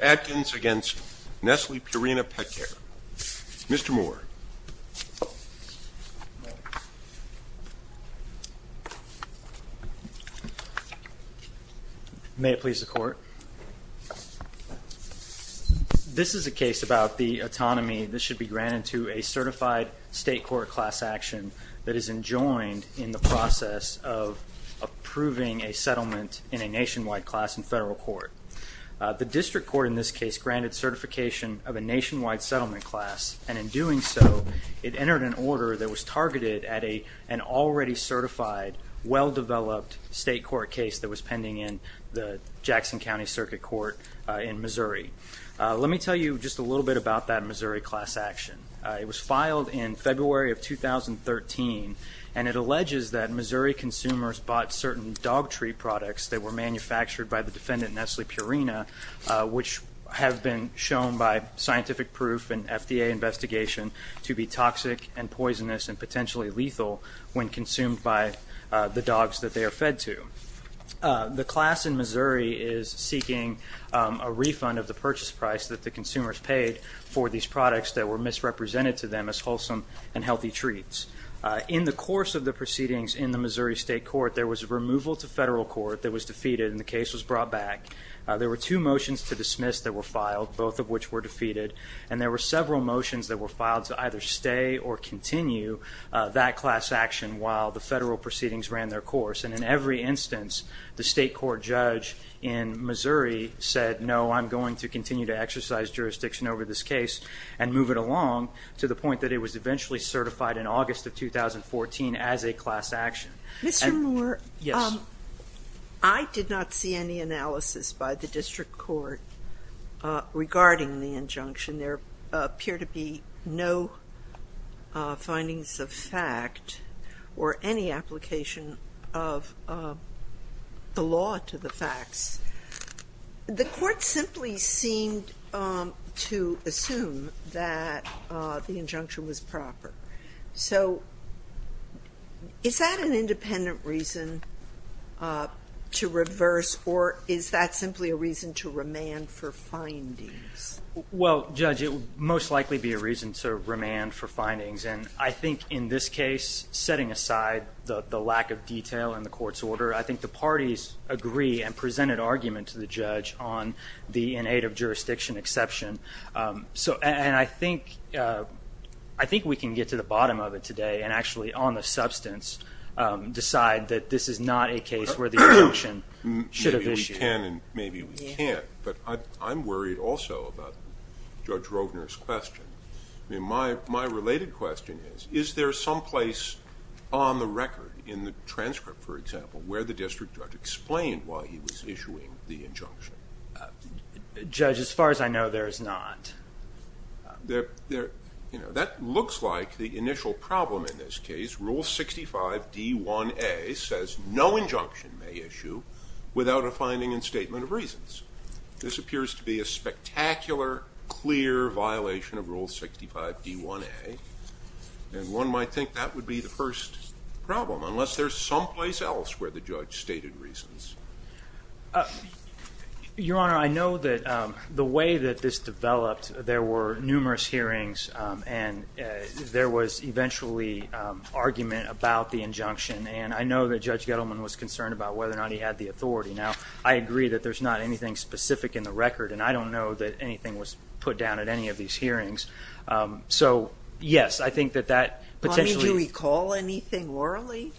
Adkins against Nestle Purina Petcare. Mr. Moore. May it please the court. This is a case about the autonomy that should be granted to a certified state court class action that is enjoined in the process of approving a settlement in a nationwide class in federal court. The district court in this case granted certification of a nationwide settlement class and in doing so it entered an order that was targeted at a an already certified well-developed state court case that was pending in the Jackson County Circuit Court in Missouri. Let me tell you just a little bit about that Missouri class action. It was filed in February of 2013 and it alleges that Missouri consumers bought certain dog treat products that were manufactured by the defendant Nestle Purina which have been shown by scientific proof and FDA investigation to be toxic and poisonous and potentially lethal when consumed by the dogs that they are fed to. The class in Missouri is seeking a refund of the purchase price that the consumers paid for these products that were misrepresented to them as wholesome and healthy treats. In the course of the proceedings in the Missouri State Court there was a removal to federal court that was defeated and the case was brought back. There were two motions to dismiss that were filed both of which were defeated and there were several motions that were filed to either stay or continue that class action while the federal proceedings ran their course and in every instance the state court judge in Missouri said no I'm going to continue to exercise jurisdiction over this case and move it along to the point that it was eventually certified in I did not see any analysis by the district court regarding the injunction there appear to be no findings of fact or any application of the law to the facts. The court simply seemed to assume that the injunction was proper so is that an independent reason to reverse or is that simply a reason to remand for findings? Well judge it would most likely be a reason to remand for findings and I think in this case setting aside the lack of detail in the court's order I think the parties agree and presented argument to the judge on the in aid of jurisdiction exception so and I think I think we can get to the bottom of it today and actually on the substance decide that this is not a case where the injunction should have issued. Maybe we can and maybe we can't but I'm worried also about Judge Rovner's question I mean my my related question is is there some place on the record in the transcript for example where the district judge explained why he was issuing the injunction? Judge as far as I know there is not there there that looks like the initial problem in this case rule 65 D1A says no injunction may issue without a finding and statement of reasons. This appears to be a spectacular clear violation of rule 65 D1A and one might think that would be the first problem unless there's someplace else where the judge stated reasons. Your honor I know that the way that this developed there were numerous hearings and there was eventually argument about the injunction and I know that Judge Gettleman was concerned about whether or not he had the authority now I agree that there's not anything specific in the record and I don't know that anything was put down at any of these hearings so yes I think that that potentially recall anything orally?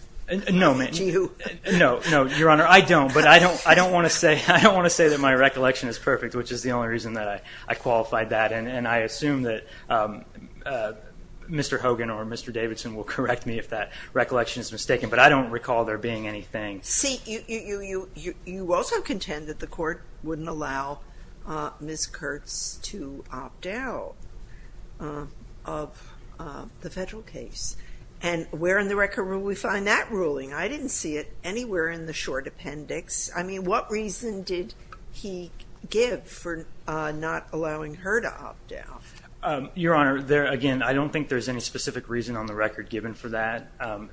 No no no your honor I don't but I don't I don't want to say I don't want to say that my recollection is perfect which is the only reason that I I qualified that and and I assume that Mr. Hogan or Mr. Davidson will correct me if that recollection is mistaken but I don't recall there being anything. See you also contend that the court wouldn't allow Ms. Kurtz to opt out of the federal case and where in the record rule we find that ruling I didn't see it anywhere in the short appendix I mean what reason did he give for not allowing her to opt out? Your honor there again I don't think there's any specific reason on the record given for that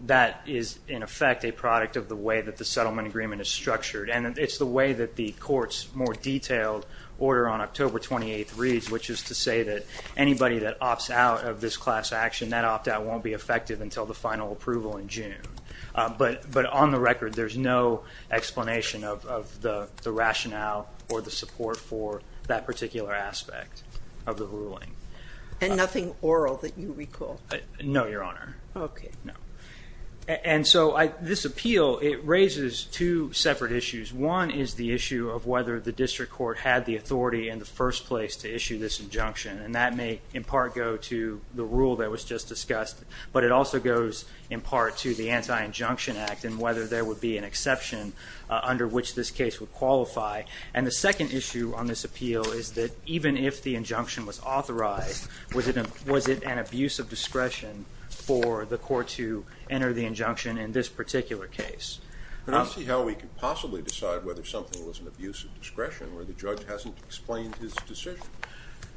that is in effect a product of the way that the settlement agreement is structured and it's the way that the courts more detailed order on October 28th reads which is to say that anybody that opts out of this class action that opt-out won't be effective until the final approval in June but but on the record there's no explanation of the the rationale or the support for that particular aspect of the ruling. And nothing oral that you recall? No your honor. Okay. And so I this appeal it raises two separate issues one is the issue of whether the district court had the authority in the first place to issue this injunction and that may in part go to the rule that was just discussed but it also goes in part to the anti-injunction act and whether there would be an exception under which this case would qualify and the second issue on this appeal is that even if the injunction was authorized was it a was it an abuse of discretion for the court to enter the injunction in this particular case? I don't see how we could possibly decide whether something was an abuse of discretion where the judge hasn't explained his decision.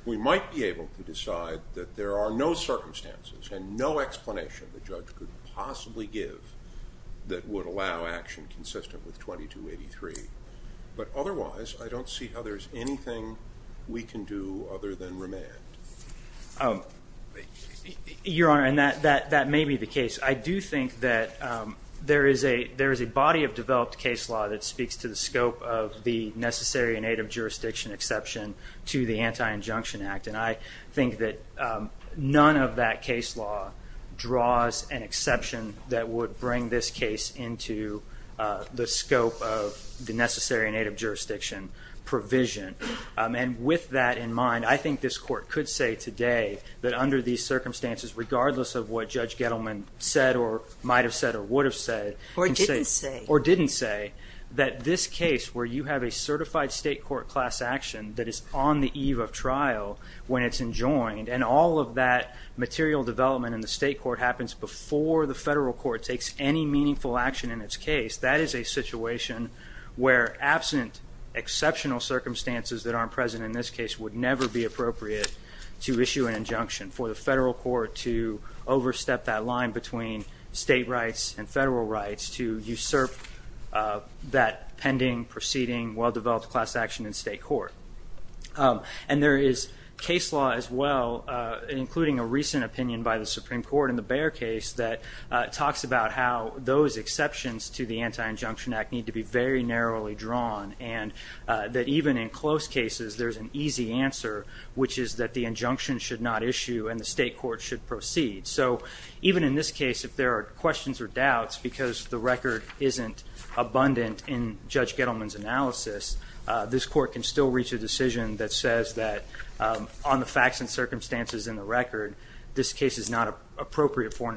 We might be able to decide that there are no circumstances and no explanation the action consistent with 2283 but otherwise I don't see how there's anything we can do other than remand. Your honor and that that that may be the case I do think that there is a there is a body of developed case law that speaks to the scope of the necessary and native jurisdiction exception to the anti injunction act and I think that none of that case law draws an exception that would bring this case into the scope of the necessary native jurisdiction provision and with that in mind I think this court could say today that under these circumstances regardless of what Judge Gettleman said or might have said or would have said or didn't say or didn't say that this case where you have a certified state court class action that is on the eve of trial when it's enjoined and all of that material development in the state court happens before the federal court takes any meaningful action in its case that is a situation where absent exceptional circumstances that aren't present in this case would never be appropriate to issue an injunction for the federal court to overstep that line between state rights and federal rights to usurp that pending proceeding well-developed class action in state court and there is case law as well including a recent opinion by the Supreme Court in the case that talks about how those exceptions to the anti injunction act need to be very narrowly drawn and that even in close cases there's an easy answer which is that the injunction should not issue and the state court should proceed so even in this case if there are questions or doubts because the record isn't abundant in Judge Gettleman's analysis this court can still reach a decision that says that on the facts and circumstances in the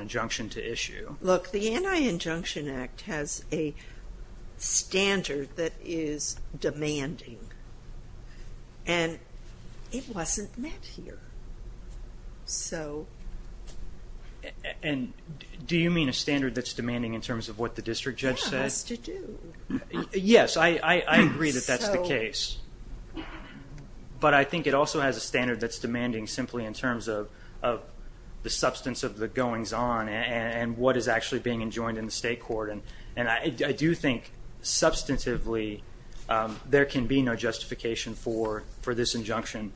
injunction to issue look the anti injunction act has a standard that is demanding and it wasn't met here so and do you mean a standard that's demanding in terms of what the district judge says yes I agree that that's the case but I think it also has a standard that's demanding simply in terms of the substance of the goings-on and what is actually being enjoined in the state court and and I do think substantively there can be no justification for for this injunction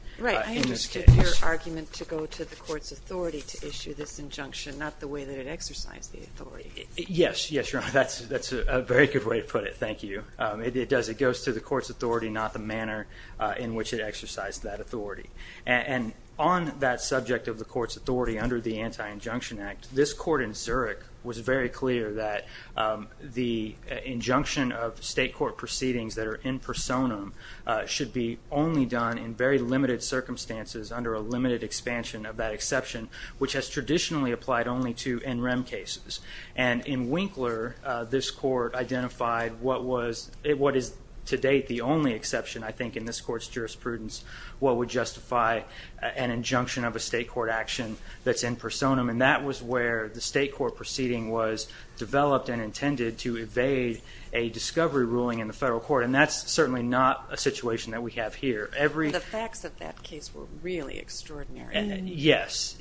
argument to go to the court's authority to issue this injunction not the way that it exercised the authority yes yes you're on that's that's a very good way to put it thank you it does it goes to the court's authority not the manner in which it exercised that authority and on that subject of the court's authority under the anti injunction act this court in Zurich was very clear that the injunction of state court proceedings that are in personam should be only done in very limited circumstances under a limited expansion of that exception which has traditionally applied only to NREM cases and in Winkler this court identified what was it what is to date the only exception I think in this court's jurisprudence what would justify an injunction of a state court action that's in personam and that was where the state court proceeding was developed and intended to evade a discovery ruling in the federal court and that's certainly not a situation that we have here every the facts of that case were really extraordinary yes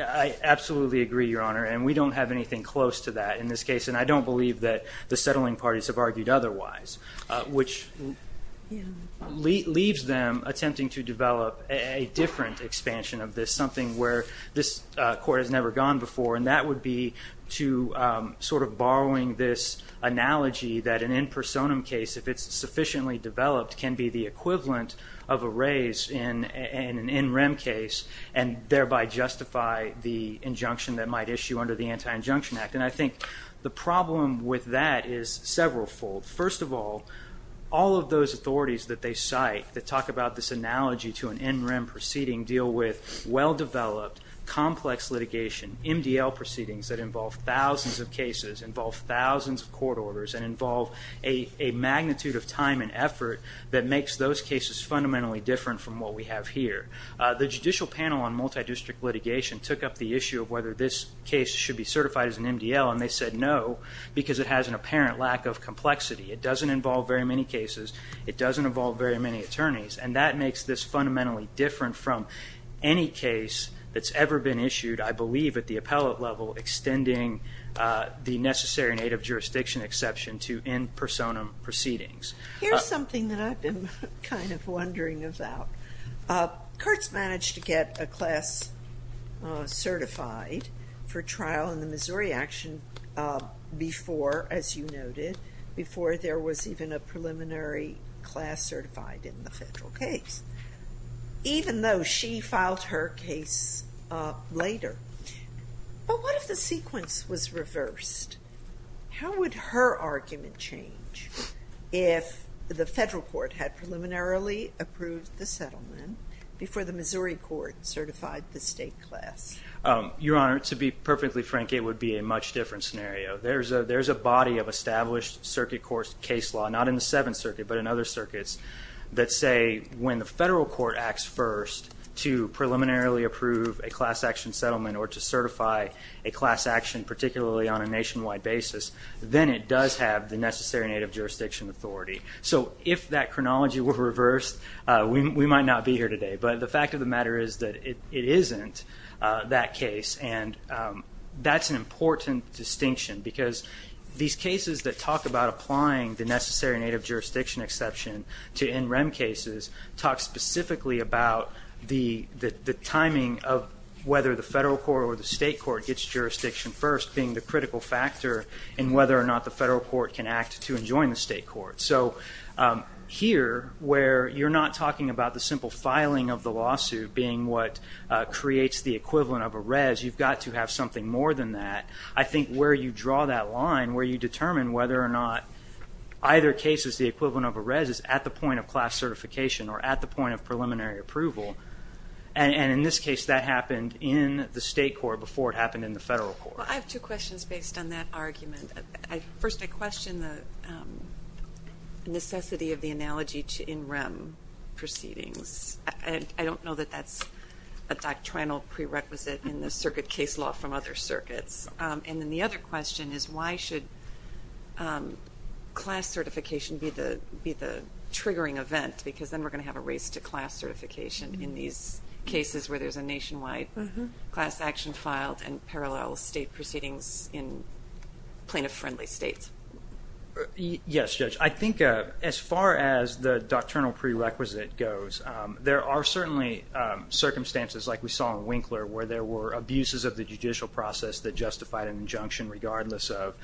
I absolutely agree your honor and we don't have anything close to that in this case and I don't believe that the settling parties have argued otherwise which leaves them attempting to develop a different expansion of this something where this court has never gone before and that would be to sort of borrowing this analogy that an in personam case if it's sufficiently developed can be the equivalent of a raise in an NREM case and thereby justify the injunction that might issue under the anti injunction act and I think the problem with that is several fold first of all all of those authorities that they cite that talk about this analogy to an NREM proceeding deal with well-developed complex litigation MDL proceedings that involve thousands of cases involve thousands of court orders and involve a magnitude of time and effort that makes those cases fundamentally different from what we have here the judicial panel on multi-district litigation took up the issue of whether this case should be complexity it doesn't involve very many cases it doesn't involve very many attorneys and that makes this fundamentally different from any case that's ever been issued I believe at the appellate level extending the necessary native jurisdiction exception to in personam proceedings here's something that I've been kind of wondering about Kurtz managed to get a class certified for trial in the Missouri action before as you noted before there was even a preliminary class certified in the federal case even though she filed her case later but what if the sequence was reversed how would her argument change if the federal court had preliminarily approved the settlement before the to be perfectly frank it would be a much different scenario there's a there's a body of established circuit course case law not in the Seventh Circuit but in other circuits that say when the federal court acts first to preliminarily approve a class action settlement or to certify a class action particularly on a nationwide basis then it does have the necessary native jurisdiction authority so if that chronology were reversed we might not be here today but the fact of matter is that it isn't that case and that's an important distinction because these cases that talk about applying the necessary native jurisdiction exception to in rem cases talk specifically about the the timing of whether the federal court or the state court gets jurisdiction first being the critical factor in whether or not the federal court can act to enjoin the state court so here where you're not talking about the simple filing of the lawsuit being what creates the equivalent of a res you've got to have something more than that I think where you draw that line where you determine whether or not either case is the equivalent of a res is at the point of class certification or at the point of preliminary approval and in this case that happened in the state court before it happened in the federal court. I have two questions based on that necessity of the analogy to in rem proceedings and I don't know that that's a doctrinal prerequisite in the circuit case law from other circuits and then the other question is why should class certification be the be the triggering event because then we're going to have a race to class certification in these cases where there's a nationwide class action filed and parallel state states. Yes judge I think as far as the doctrinal prerequisite goes there are certainly circumstances like we saw in Winkler where there were abuses of the judicial process that justified an injunction regardless of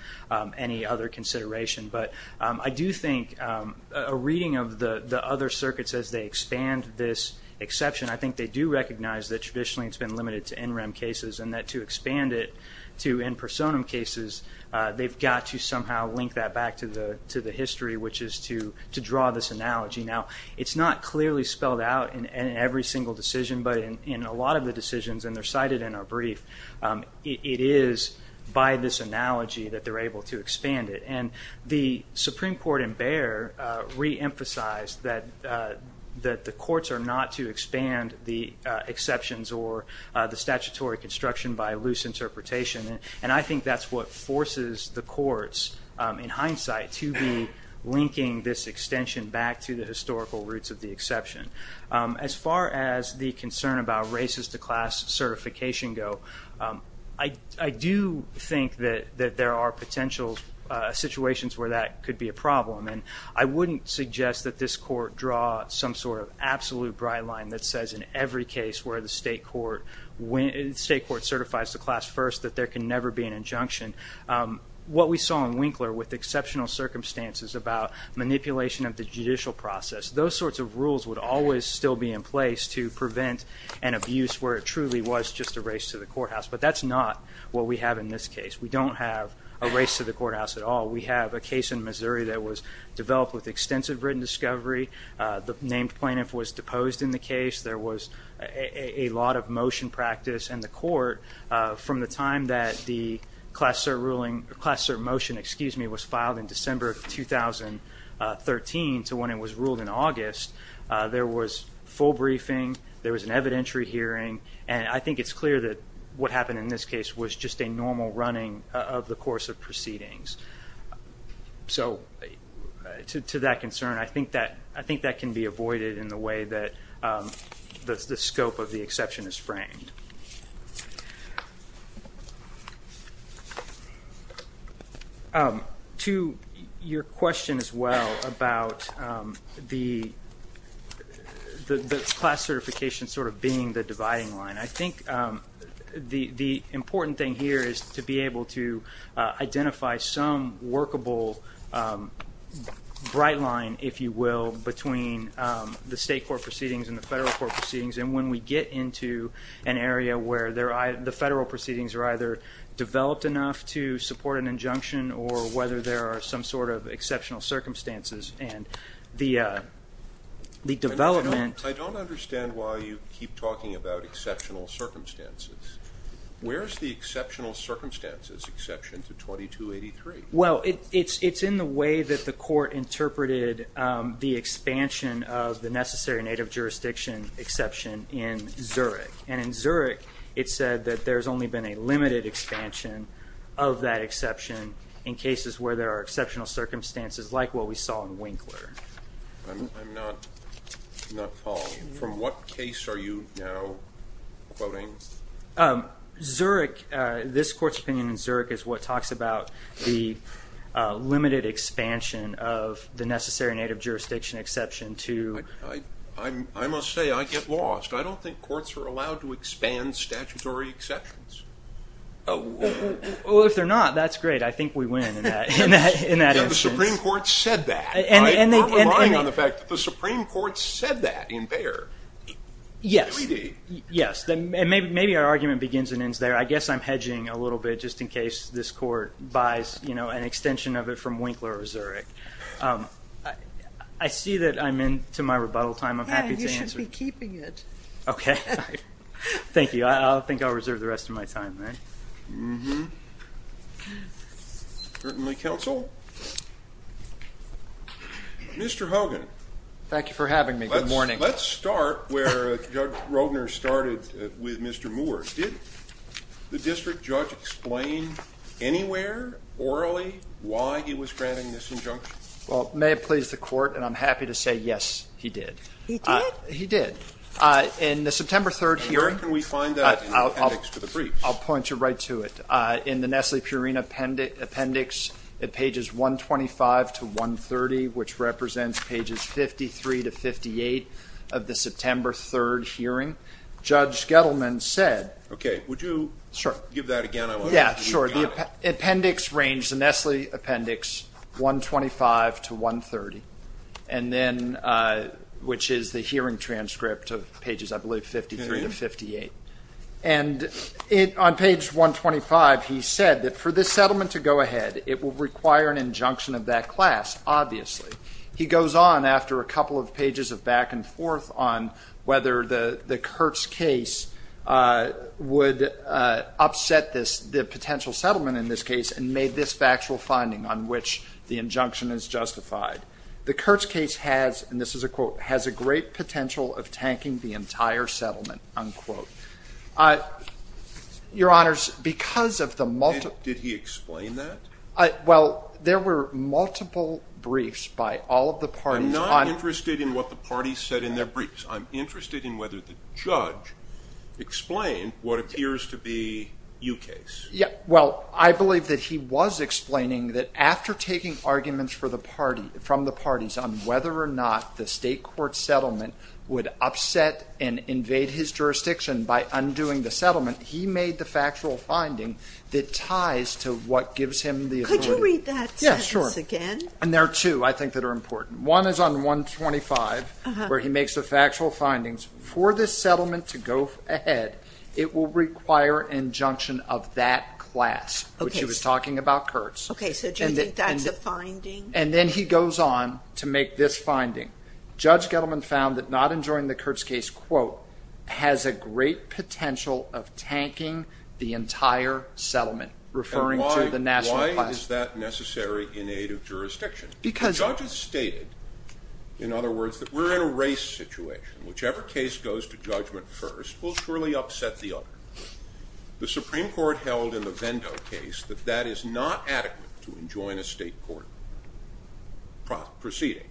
any other consideration but I do think a reading of the the other circuits as they expand this exception I think they do recognize that traditionally it's been limited to somehow link that back to the to the history which is to to draw this analogy now it's not clearly spelled out in every single decision but in a lot of the decisions and they're cited in our brief it is by this analogy that they're able to expand it and the Supreme Court and Bayer re-emphasized that that the courts are not to expand the exceptions or the statutory construction by loose interpretation and I think that's what forces the courts in hindsight to be linking this extension back to the historical roots of the exception. As far as the concern about races to class certification go I do think that that there are potential situations where that could be a problem and I wouldn't suggest that this court draw some sort of absolute bright line that says in every case where the state court certifies the class first that there can never be an injunction. What we saw in Winkler with exceptional circumstances about manipulation of the judicial process those sorts of rules would always still be in place to prevent an abuse where it truly was just a race to the courthouse but that's not what we have in this case we don't have a race to the courthouse at all we have a case in Missouri that was developed with extensive written discovery the named plaintiff was deposed in the case there was a lot of motion practice and the court from the time that the class cert ruling class cert motion excuse me was filed in December of 2013 to when it was ruled in August there was full briefing there was an evidentiary hearing and I think it's clear that what happened in this case was just a normal running of the course of proceedings. So to that concern I think that I think that can be the scope of the exception is framed. To your question as well about the the class certification sort of being the dividing line I think the the important thing here is to be able to identify some workable bright line if you will between the state court proceedings and federal court proceedings and when we get into an area where there I the federal proceedings are either developed enough to support an injunction or whether there are some sort of exceptional circumstances and the the development I don't understand why you keep talking about exceptional circumstances where's the exceptional circumstances exception to 2283 well it's it's in the way that the court interpreted the expansion of the exception in Zurich and in Zurich it said that there's only been a limited expansion of that exception in cases where there are exceptional circumstances like what we saw in Winkler. I'm not not following from what case are you now quoting? Zurich this court's opinion in Zurich is what talks about the limited expansion of the necessary native jurisdiction exception to I must say I get lost I don't think courts are allowed to expand statutory exceptions. Well if they're not that's great I think we win in that in that in that Supreme Court said that and the fact that the Supreme Court said that in there. Yes yes then maybe maybe our argument begins and ends there I guess I'm hedging a little bit just in case this court buys you know an extension of from Winkler or Zurich. I see that I'm in to my rebuttal time I'm happy to answer. You should be keeping it. Okay thank you I'll think I'll reserve the rest of my time. Certainly counsel. Mr. Hogan. Thank you for having me good morning. Let's start where Judge Rogner started with Mr. Moore. Did the district judge explain anywhere orally why he was granting this injunction? Well may it please the court and I'm happy to say yes he did. He did? He did. In the September 3rd hearing. Where can we find that in the appendix to the briefs? I'll point you right to it. In the Nestle-Purina appendix at pages 125 to 130 which represents pages 53 to 58 of the September 3rd hearing Judge Gettleman said. Okay would you give that again? Yeah sure the appendix range the Nestle appendix 125 to 130 and then which is the hearing transcript of pages I believe 53 to 58 and it on page 125 he said that for this settlement to go ahead it will require an injunction of that class obviously. He goes on after a couple of pages of back and forth on whether the the Kurtz case would upset this the potential settlement in this case and made this factual finding on which the injunction is justified. The Kurtz case has and this is a quote has a great potential of tanking the entire settlement unquote. Your honors because of the multi... Did he explain that? Well there were multiple briefs by all of the parties. I'm not interested in what the briefs I'm interested in whether the judge explained what appears to be you case. Yeah well I believe that he was explaining that after taking arguments for the party from the parties on whether or not the state court settlement would upset and invade his jurisdiction by undoing the settlement he made the factual finding that ties to what gives him the... Could you read that again? And there are two I think that are important. One is on 125 where he makes the factual findings for this settlement to go ahead it will require injunction of that class which he was talking about Kurtz. Okay so do you think that's a finding? And then he goes on to make this finding. Judge Gettleman found that not enjoying the Kurtz case quote has a great potential of tanking the entire settlement referring to the national class. Why is that necessary in aid of jurisdiction? Because... Judges stated in other words that we're in a race situation. Whichever case goes to judgment first will surely upset the other. The Supreme Court held in the Vendo case that that is not adequate to enjoin a state court proceeding.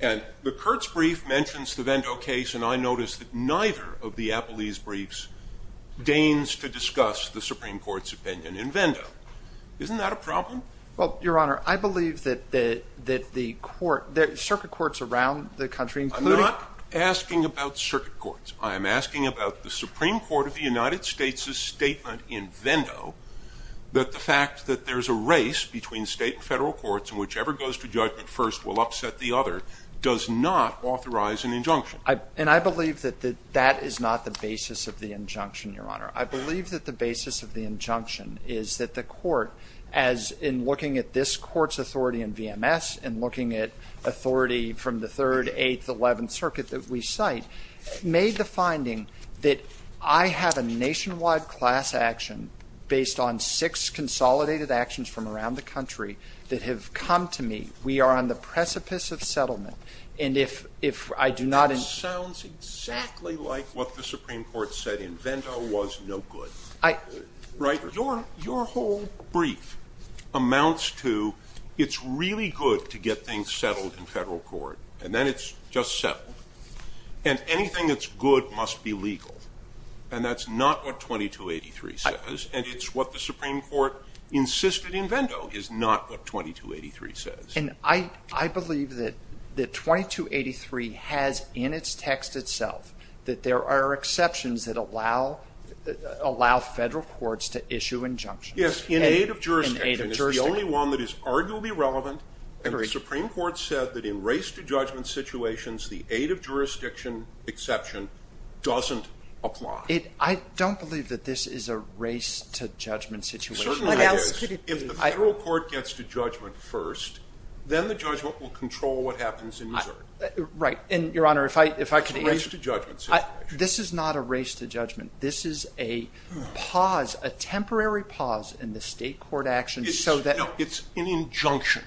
And the Kurtz brief mentions the Vendo case and I noticed that neither of the Appelese briefs deigns to discuss the Supreme Court's opinion in that the court... circuit courts around the country... I'm not asking about circuit courts. I'm asking about the Supreme Court of the United States' statement in Vendo that the fact that there's a race between state and federal courts and whichever goes to judgment first will upset the other does not authorize an injunction. And I believe that that is not the basis of the injunction your honor. I believe that the basis of the injunction is that the court as in looking at this court's authority in VMS and looking at authority from the 3rd, 8th, 11th circuit that we cite made the finding that I have a nationwide class action based on six consolidated actions from around the country that have come to me. We are on the precipice of settlement. And if I do not... It sounds exactly like what the Supreme Court said in Vendo was no good. Right? Your whole brief amounts to it's really good to get things settled in federal court and then it's just settled. And anything that's good must be legal. And that's not what 2283 says. And it's what the Supreme Court insisted in Vendo is not what 2283 says. And I believe that the 2283 has in its text itself that there are exceptions that allow federal courts to issue injunctions. Yes. In aid of jurisdiction. In aid of jurisdiction. It's the only one that is arguably relevant. And the Supreme Court said that in race to judgment situations the aid of jurisdiction exception doesn't apply. I don't believe that this is a race to judgment situation. Certainly it is. If the federal court gets to judgment first, then the judgment will control what happens in the 3rd. Right. And your honor, if I could answer... This is not a race to judgment. This is a pause, a temporary pause in the state court action so that... No, it's an injunction.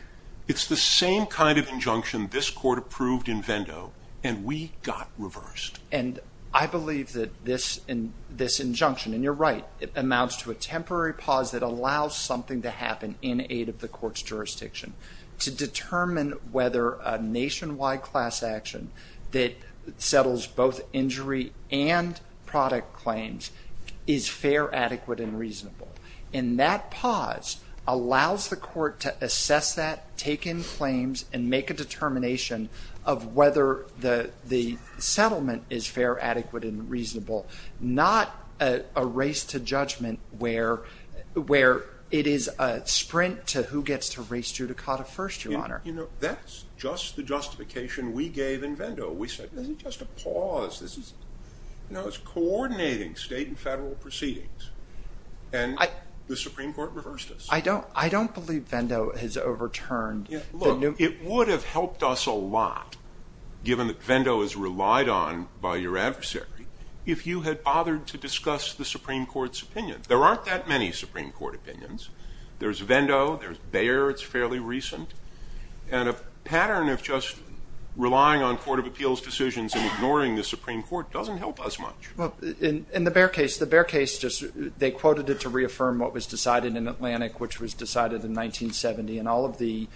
It's the same kind of injunction this court approved in Vendo and we got reversed. And I believe that this injunction, and you're right, it amounts to a temporary pause that allows something to happen in aid of the court's jurisdiction to determine whether a nationwide class action that settles both injury and product claims is fair, adequate, and reasonable. And that pause allows the court to assess that, take in claims, and make a determination of whether the settlement is fair, adequate, and reasonable, not a race to judgment where it is a sprint to who gets to race judicata first, your honor. You know, that's just the justification we gave in Vendo. We said, this is just a pause. This is, you know, it's coordinating state and federal proceedings. And the Supreme Court reversed us. I don't believe Vendo has overturned the new... It would have helped us a lot, given that Vendo is relied on by your adversary, if you had bothered to discuss the Supreme Court's opinion. There aren't that many Supreme Court opinions. There's Vendo, there's Bayer. It's fairly recent. And a pattern of just relying on court of appeals decisions and ignoring the Supreme Court doesn't help us much. Well, in the Bear case, the Bear case, they quoted it to reaffirm what was decided in Atlantic, which was decided in 1970. And all of the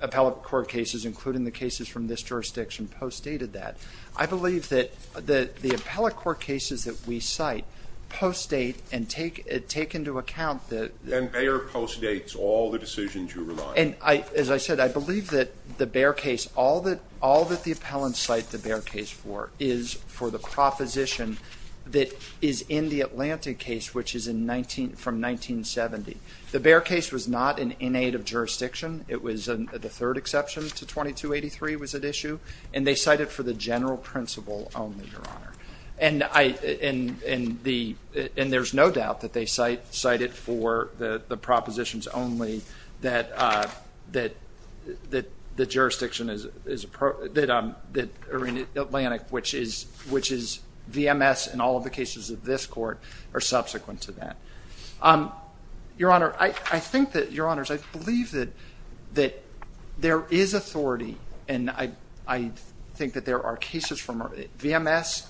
appellate court cases, including the cases from this jurisdiction, postdated that. I believe that the appellate court cases that we cite postdate and take into account that... And Bayer postdates all the decisions you rely on. And as I said, I believe that the Bear case, all that the appellants cite the Bear case for is for the proposition that is in the Atlantic case, which is from 1970. The Bear case was not an innate of jurisdiction. It was the third exception to 2283 was at issue. And they cite it for the general principle only, Your Honor. And there's no doubt that they cite it for the propositions only that the jurisdiction that are in Atlantic, which is VMS and all of the cases of this court, are subsequent to that. Your Honor, I think that, Your Honors, I believe that there is authority, and I think that there are cases from VMS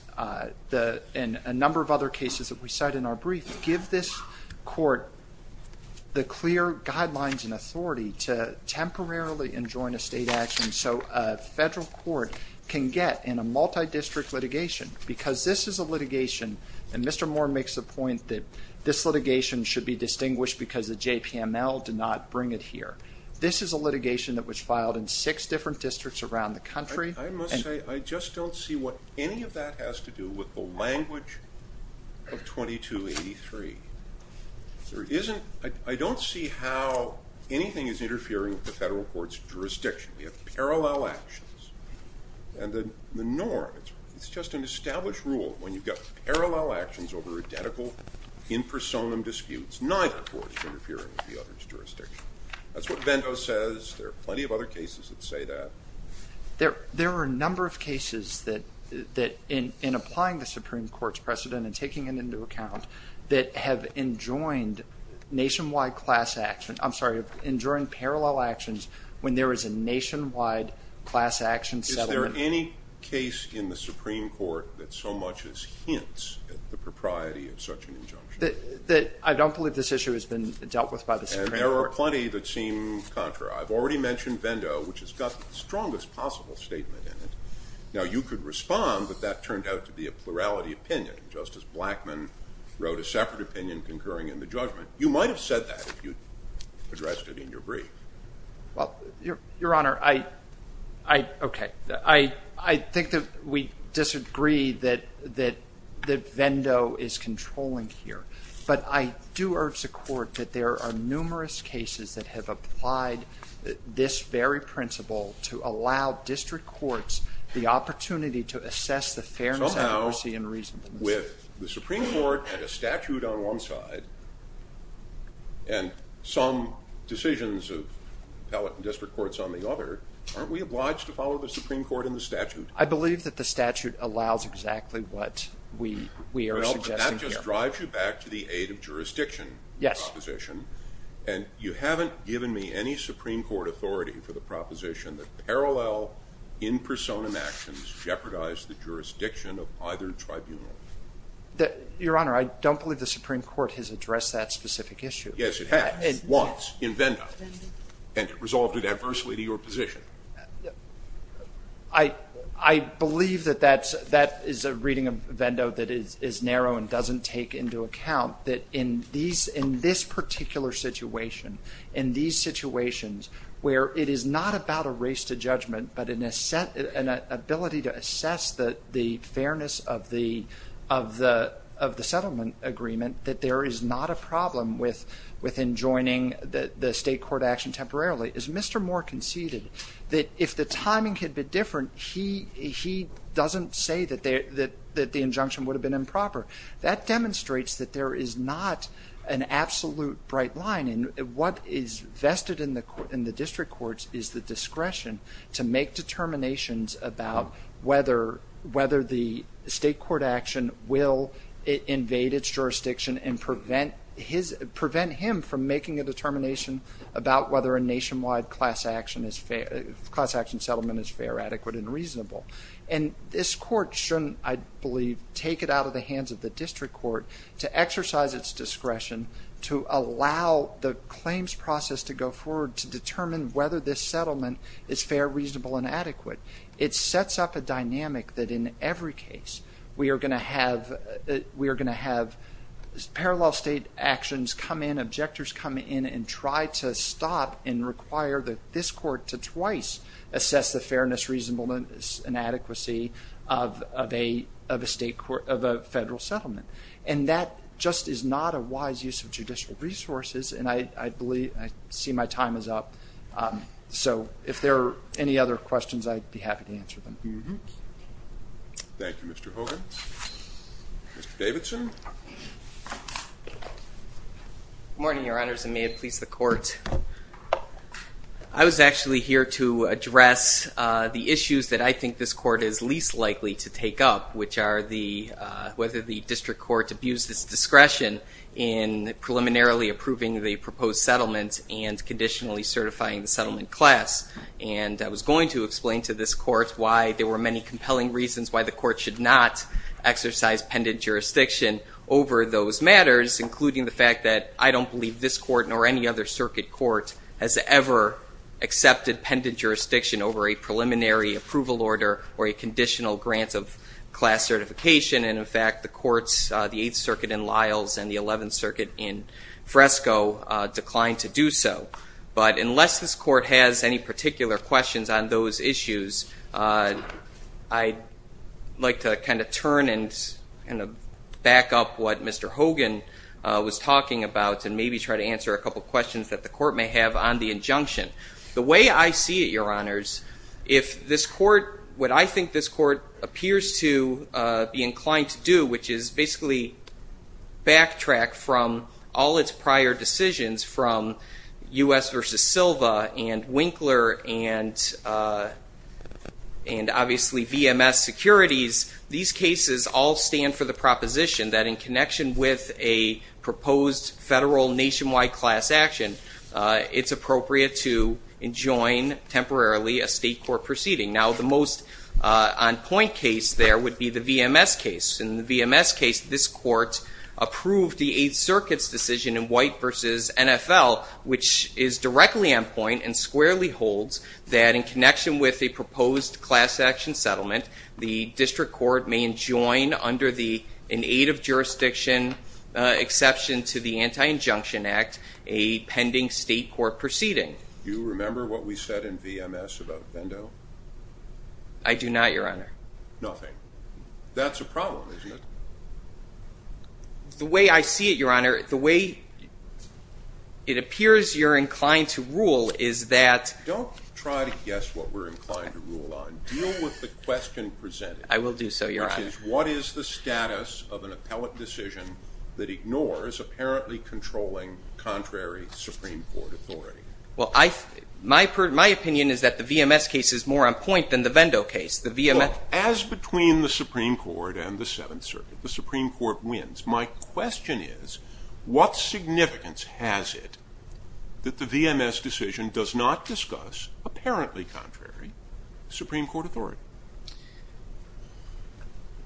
and a number of other cases that we cite in our brief give this court the clear guidelines and authority to temporarily enjoin a state action so a federal court can get in a multi-district litigation. Because this is a litigation, and Mr. Moore makes the point that this litigation should be distinguished because the JPML did not bring it here. This is a litigation that was filed in six different districts around the country. I must say, I just don't see what any of that has to do with the language of 2283. I don't see how anything is interfering with the federal court's jurisdiction. We have parallel actions, and the norm, it's just an established rule when you've got parallel actions over identical in personam disputes, neither court's interfering with the other's jurisdiction. That's what Bento says. There are plenty of other cases that say that. There are a number of cases that in applying the Supreme Court's precedent and taking it into account, that have enjoined nationwide class action. I'm sorry, enjoined parallel actions when there is a nationwide class action settlement. Is there any case in the Supreme Court that so much as hints at the propriety of such an injunction? I don't believe this issue has been dealt with by the Supreme Court. There are plenty that seem contrary. I've already mentioned Bento, which has got the strongest possible statement in it. Now, you could respond, but that turned out to be a plurality opinion, just as Blackman wrote a separate opinion concurring in the judgment. You might have said that if you addressed it in your brief. Well, your, your honor, I, I, okay. I, I think that we disagree that, that, that Bento is controlling here. But I do urge the court that there are numerous cases that have applied this very principle to allow district courts the opportunity to assess the fairness, accuracy, and reasonableness. Somehow, with the Supreme Court and a statute on one side, and some decisions of appellate and district courts on the other, aren't we obliged to follow the Supreme Court and the statute? I believe that the statute allows exactly what we, we are suggesting here. Drives you back to the aid of jurisdiction. Yes. Proposition. And you haven't given me any Supreme Court authority for the proposition that parallel in persona actions jeopardize the jurisdiction of either tribunal. Your honor, I don't believe the Supreme Court has addressed that specific issue. Yes, it has. It once, in Bento. And it resolved it adversely to your position. I, I believe that that's, that is a reading of Bento that is, is narrow and doesn't take into account that in these, in this particular situation, in these situations where it is not about a race to judgment, but in a set, an ability to assess the, the fairness of the, of the, of the settlement agreement, that there is not a problem with, with enjoining the, the state court action temporarily. As Mr. Moore conceded, that if the timing could be different, he, he doesn't say that there, that, that the injunction would have been improper. That demonstrates that there is not an absolute bright line. And what is vested in the court, in the district courts, is the discretion to make determinations about whether, whether the state court action will invade its jurisdiction and prevent his, prevent him from making a determination about whether a nationwide class action is fair, class action settlement is fair, adequate, and reasonable. And this court shouldn't, I believe, take it out of the hands of the district court to exercise its discretion, to allow the claims process to go forward, to determine whether this settlement is fair, reasonable, and adequate. It sets up a dynamic that in every case, we are going to have, we are going to have parallel state actions come in, objectors come in, and try to stop and require that this court to twice assess the fairness, reasonableness, and adequacy of, of a, of a state court, of a federal settlement. And that just is not a wise use of judicial resources, and I, I believe, I see my time is up, so if there are any other questions, I'd be happy to answer them. Mm-hm. Thank you, Mr. Hogan. Mr. Davidson. Good morning, your honors, and may it please the court. I was actually here to address the issues that I think this court is least likely to take up, which are the whether the district court abused its discretion in preliminarily approving the proposed settlement and conditionally certifying the settlement class. And I was going to explain to this court why there were many compelling reasons why the court should not exercise pendent jurisdiction over those matters, including the fact that I don't believe this court nor any other circuit court has ever accepted pendent jurisdiction over a preliminary approval order or a conditional grant of class certification. And in fact, the courts, the 8th Circuit in Lyles and the 11th Circuit in Fresco declined to do so. But unless this court has any particular questions on those issues, I'd like to kind of turn and kind of back up what Mr. Hogan was talking about and maybe try to answer a couple questions that the court may have on the injunction. The way I see it, your honors, if this court, what I think this court appears to be inclined to do, which is basically backtrack from all its prior decisions from US versus Silva and Winkler and obviously VMS securities. These cases all stand for the proposition that in connection with a proposed federal nationwide class action, it's appropriate to enjoin temporarily a state court proceeding. Now the most on point case there would be the VMS case. In the VMS case, this court approved the 8th Circuit's decision in White versus NFL, which is directly on point and squarely holds that in connection with a proposed class action settlement, the district court may enjoin under the, in aid of jurisdiction exception to the Anti-Injunction Act, a pending state court proceeding. Do you remember what we said in VMS about a pendo? I do not, your honor. Nothing. That's a problem, isn't it? The way I see it, your honor, the way it appears you're inclined to rule is that. Don't try to guess what we're inclined to rule on. Deal with the question presented. I will do so, your honor. Which is, what is the status of an appellate decision that ignores apparently controlling contrary Supreme Court authority? Well, I, my, my opinion is that the VMS case is more on point than the Vendo case. The VMS. As between the Supreme Court and the 7th Circuit. The Supreme Court wins. My question is, what significance has it that the VMS decision does not discuss apparently contrary Supreme Court authority?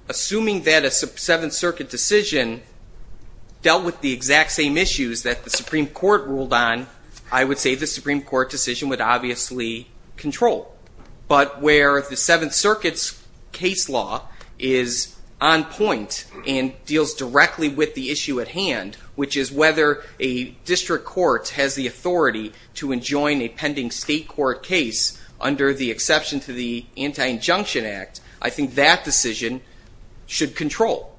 Assuming that a 7th Circuit decision dealt with the exact same issues that the Supreme Court ruled on, I would say the Supreme Court decision would obviously control, but where the 7th Circuit's case law is on point and deals directly with the issue at hand, which is whether a district court has the authority to enjoin a pending state court case under the exception to the Anti-Injunction Act, I think that decision should control.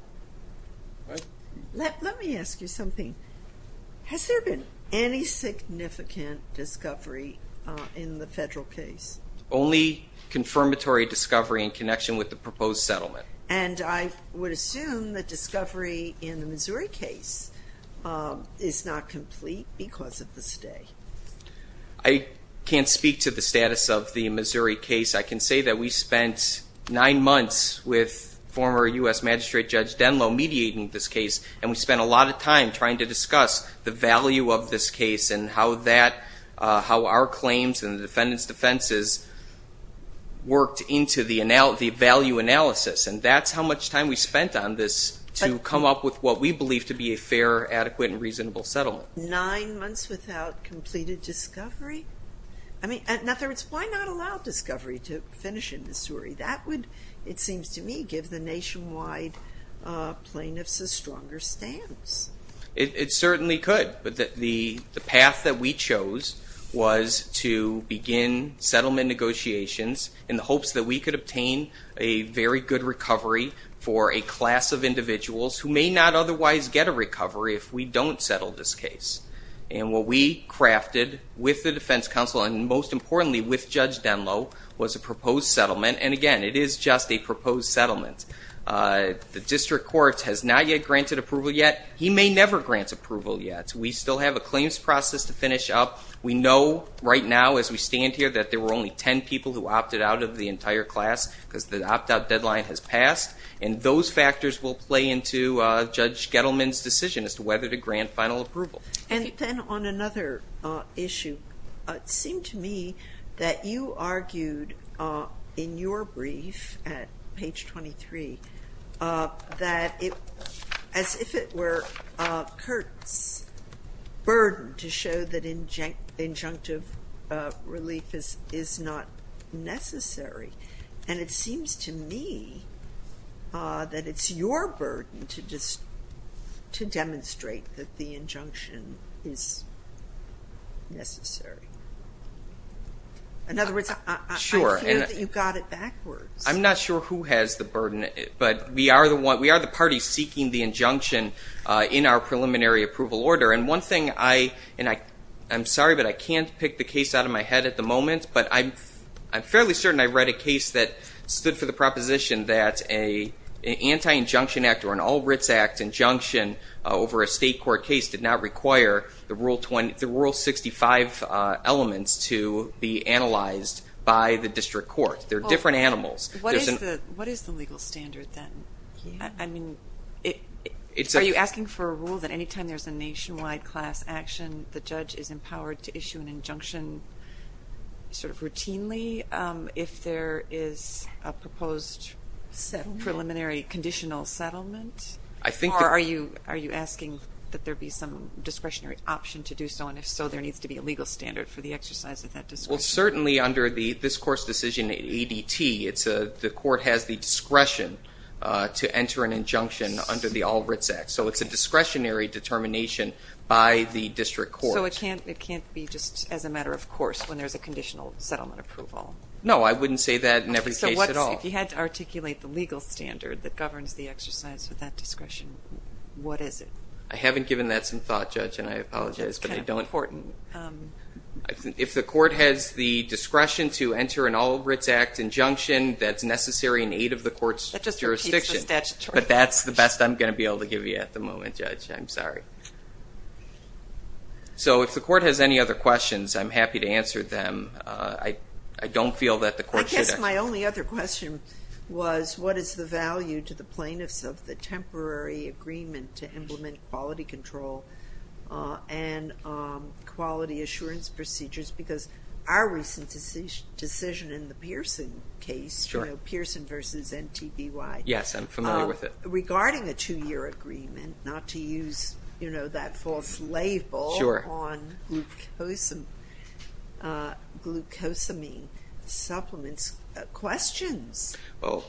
Let, let me ask you something. Has there been any significant discovery in the federal case? Only confirmatory discovery in connection with the proposed settlement. And I would assume that discovery in the Missouri case is not complete because of the stay. I can't speak to the status of the Missouri case. I can say that we spent nine months with former US magistrate judge Denlow mediating this case, and we spent a lot of time trying to discuss the value of this case and how that, how our claims and the defendant's defenses worked into the value analysis, and that's how much time we spent on this to come up with what we believe to be a fair, adequate, and reasonable settlement. Nine months without completed discovery? I mean, in other words, why not allow discovery to finish in Missouri? That would, it seems to me, give the nationwide plaintiffs a stronger stance. It, it certainly could, but the, the path that we chose was to begin settlement negotiations in the hopes that we could obtain a very good recovery for a class of individuals who may not otherwise get a recovery if we don't settle this case. And what we crafted with the defense counsel, and most importantly, with Judge Denlow, was a proposed settlement, and again, it is just a proposed settlement. The district court has not yet granted approval yet. He may never grant approval yet. We still have a claims process to finish up. We know, right now, as we stand here, that there were only ten people who opted out of the entire class, because the opt-out deadline has passed. And those factors will play into Judge Gettleman's decision as to whether to grant final approval. And then on another issue, it seemed to me that you argued in your brief at page 23, that it, as if it were Kurt's burden to show that injun, injunctive relief is, is not necessary. And it seems to me that it's your burden to just, to demonstrate that the injunction is necessary. In other words, I, I, I feel that you got it backwards. I'm not sure who has the burden, but we are the one, we are the party seeking the injunction in our preliminary approval order. And one thing I, and I, I'm sorry, but I can't pick the case out of my head at the moment. But I'm, I'm fairly certain I read a case that stood for the proposition that a, an anti-injunction act or an all writs act injunction over a state court case did not require the rule 20, the rule 65 elements to be analyzed by the district court. They're different animals. What is the, what is the legal standard then? I mean, it, it's a. Are you asking for a rule that any time there's a nationwide class action, the judge is empowered to issue an injunction sort of routinely, if there is a proposed set preliminary conditional settlement? I think. Or are you, are you asking that there be some discretionary option to do so? And if so, there needs to be a legal standard for the exercise of that discretion. Well, certainly under the, this court's decision, ADT, it's a, the court has the discretion to enter an injunction under the all writs act. So it's a discretionary determination by the district court. So it can't, it can't be just as a matter of course when there's a conditional settlement approval. No, I wouldn't say that in every case at all. So what's, if you had to articulate the legal standard that governs the exercise of that discretion, what is it? I haven't given that some thought, Judge, and I apologize, but I don't. That's kind of important. If the court has the discretion to enter an all writs act injunction, that's necessary in aid of the court's jurisdiction. That just repeats the statutory. But that's the best I'm going to be able to give you at the moment, Judge. I'm sorry. So if the court has any other questions, I'm happy to answer them. I don't feel that the court should. I guess my only other question was what is the value to the plaintiffs of the temporary agreement to implement quality control and quality assurance procedures? Because our recent decision in the Pearson case, you know, Pearson versus NTBY. Yes, I'm familiar with it. Regarding a two-year agreement, not to use, you know, that false label on glucosamine supplements, questions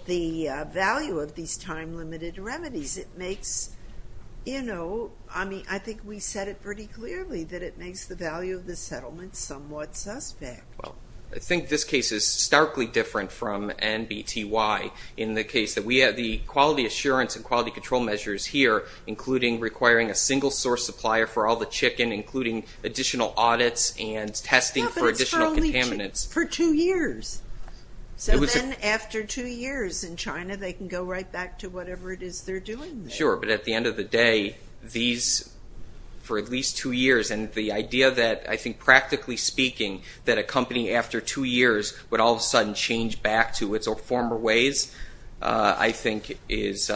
the value of these time-limited remedies. It makes, you know, I mean, I think we said it pretty clearly, that it makes the value of the settlement somewhat suspect. Well, I think this case is starkly different from NTBY in the case of quality assurance and quality control measures here, including requiring a single source supplier for all the chicken, including additional audits and testing for additional contaminants. For two years. So then after two years in China, they can go right back to whatever it is they're doing there. Sure. But at the end of the day, these, for at least two years, and the idea that, I think practically speaking, that a company after two years would all of a sudden change back to its former ways, I think is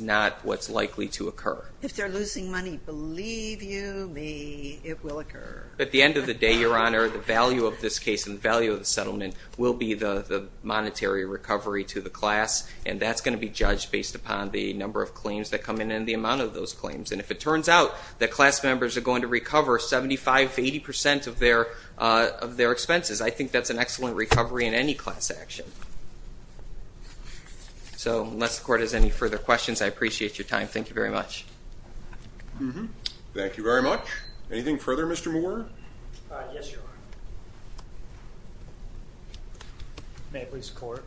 not what's likely to occur. If they're losing money, believe you me, it will occur. At the end of the day, Your Honor, the value of this case and the value of the settlement will be the monetary recovery to the class. And that's going to be judged based upon the number of claims that come in and the amount of those claims. And if it turns out that class members are going to recover 75, 80% of their expenses, I think that's an excellent recovery in any class action. So unless the Court has any further questions, I appreciate your time. Thank you very much. Thank you very much. Anything further, Mr. Moore? Yes, Your Honor. May it please the Court.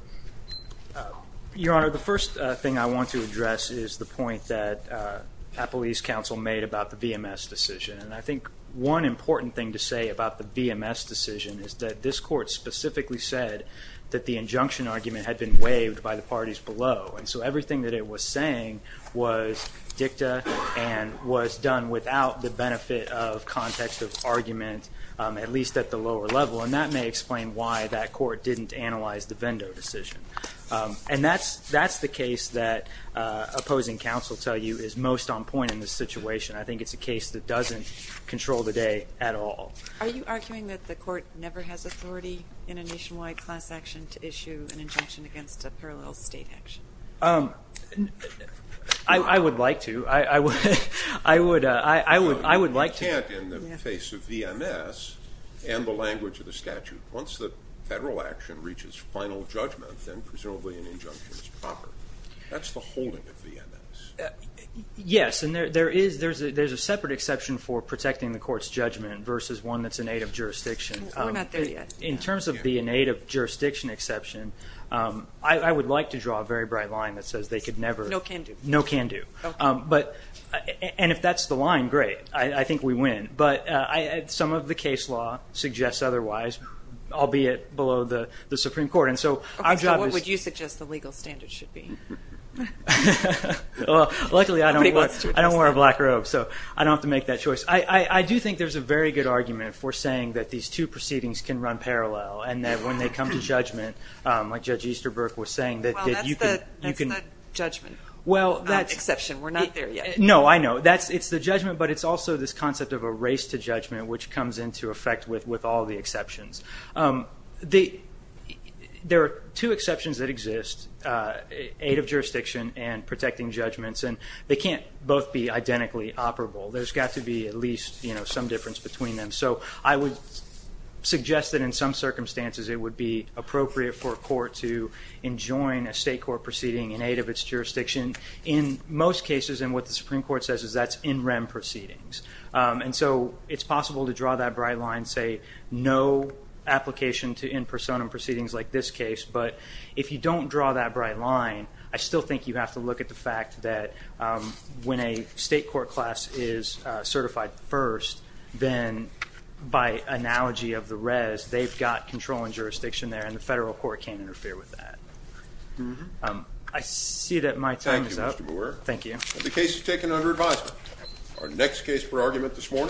Your Honor, the first thing I want to address is the point that Appalachian Council made about the VMS decision, and I think one important thing to say about the VMS decision is that this Court specifically said that the injunction argument had been waived by the parties below. And so everything that it was saying was dicta and was done without the benefit of context of argument, at least at the lower level. And that may explain why that Court didn't analyze the Vendo decision. And that's the case that opposing counsel tell you is most on point in this situation. I think it's a case that doesn't control the day at all. Are you arguing that the Court never has authority in a nationwide class action to issue an injunction against a parallel state action? I would like to. I would like to. You can't in the face of VMS and the language of the statute. Once the federal action reaches final judgment, then presumably an injunction is proper. That's the holding of VMS. Yes, and there's a separate exception for protecting the Court's judgment versus one that's in aid of jurisdiction. We're not there yet. In terms of the in aid of jurisdiction exception, I would like to draw a very bright line that says they could never. No can do. No can do. Okay. And if that's the line, great. I think we win. But some of the case law suggests otherwise, albeit below the Supreme Court. And so our job is. Okay, so what would you suggest the legal standards should be? Well, luckily I don't wear a black robe, so I don't have to make that choice. I do think there's a very good argument for saying that these two proceedings can run parallel and that when they come to judgment, like Judge Easterbrook was saying that you Well, that's the judgment. Well, that's. Exception. We're not there yet. No, I know. It's the judgment, but it's also this concept of a race to judgment, which comes into effect with all the exceptions. There are two exceptions that exist, aid of jurisdiction and protecting judgments, and they can't both be identically operable. There's got to be at least some difference between them. So I would suggest that in some circumstances it would be appropriate for a court to enjoin a state court proceeding in aid of its jurisdiction. In most cases, and what the Supreme Court says is that's in rem proceedings. And so it's possible to draw that bright line, say no application to in personam proceedings like this case. But if you don't draw that bright line, I still think you have to look at the fact that when a state court class is certified first, then by analogy of the res, they've got control and jurisdiction there, and the federal court can't interfere with that. I see that my time is up. Thank you, Mr. Bauer. Thank you. The case is taken under advisement. Our next case for argument this morning.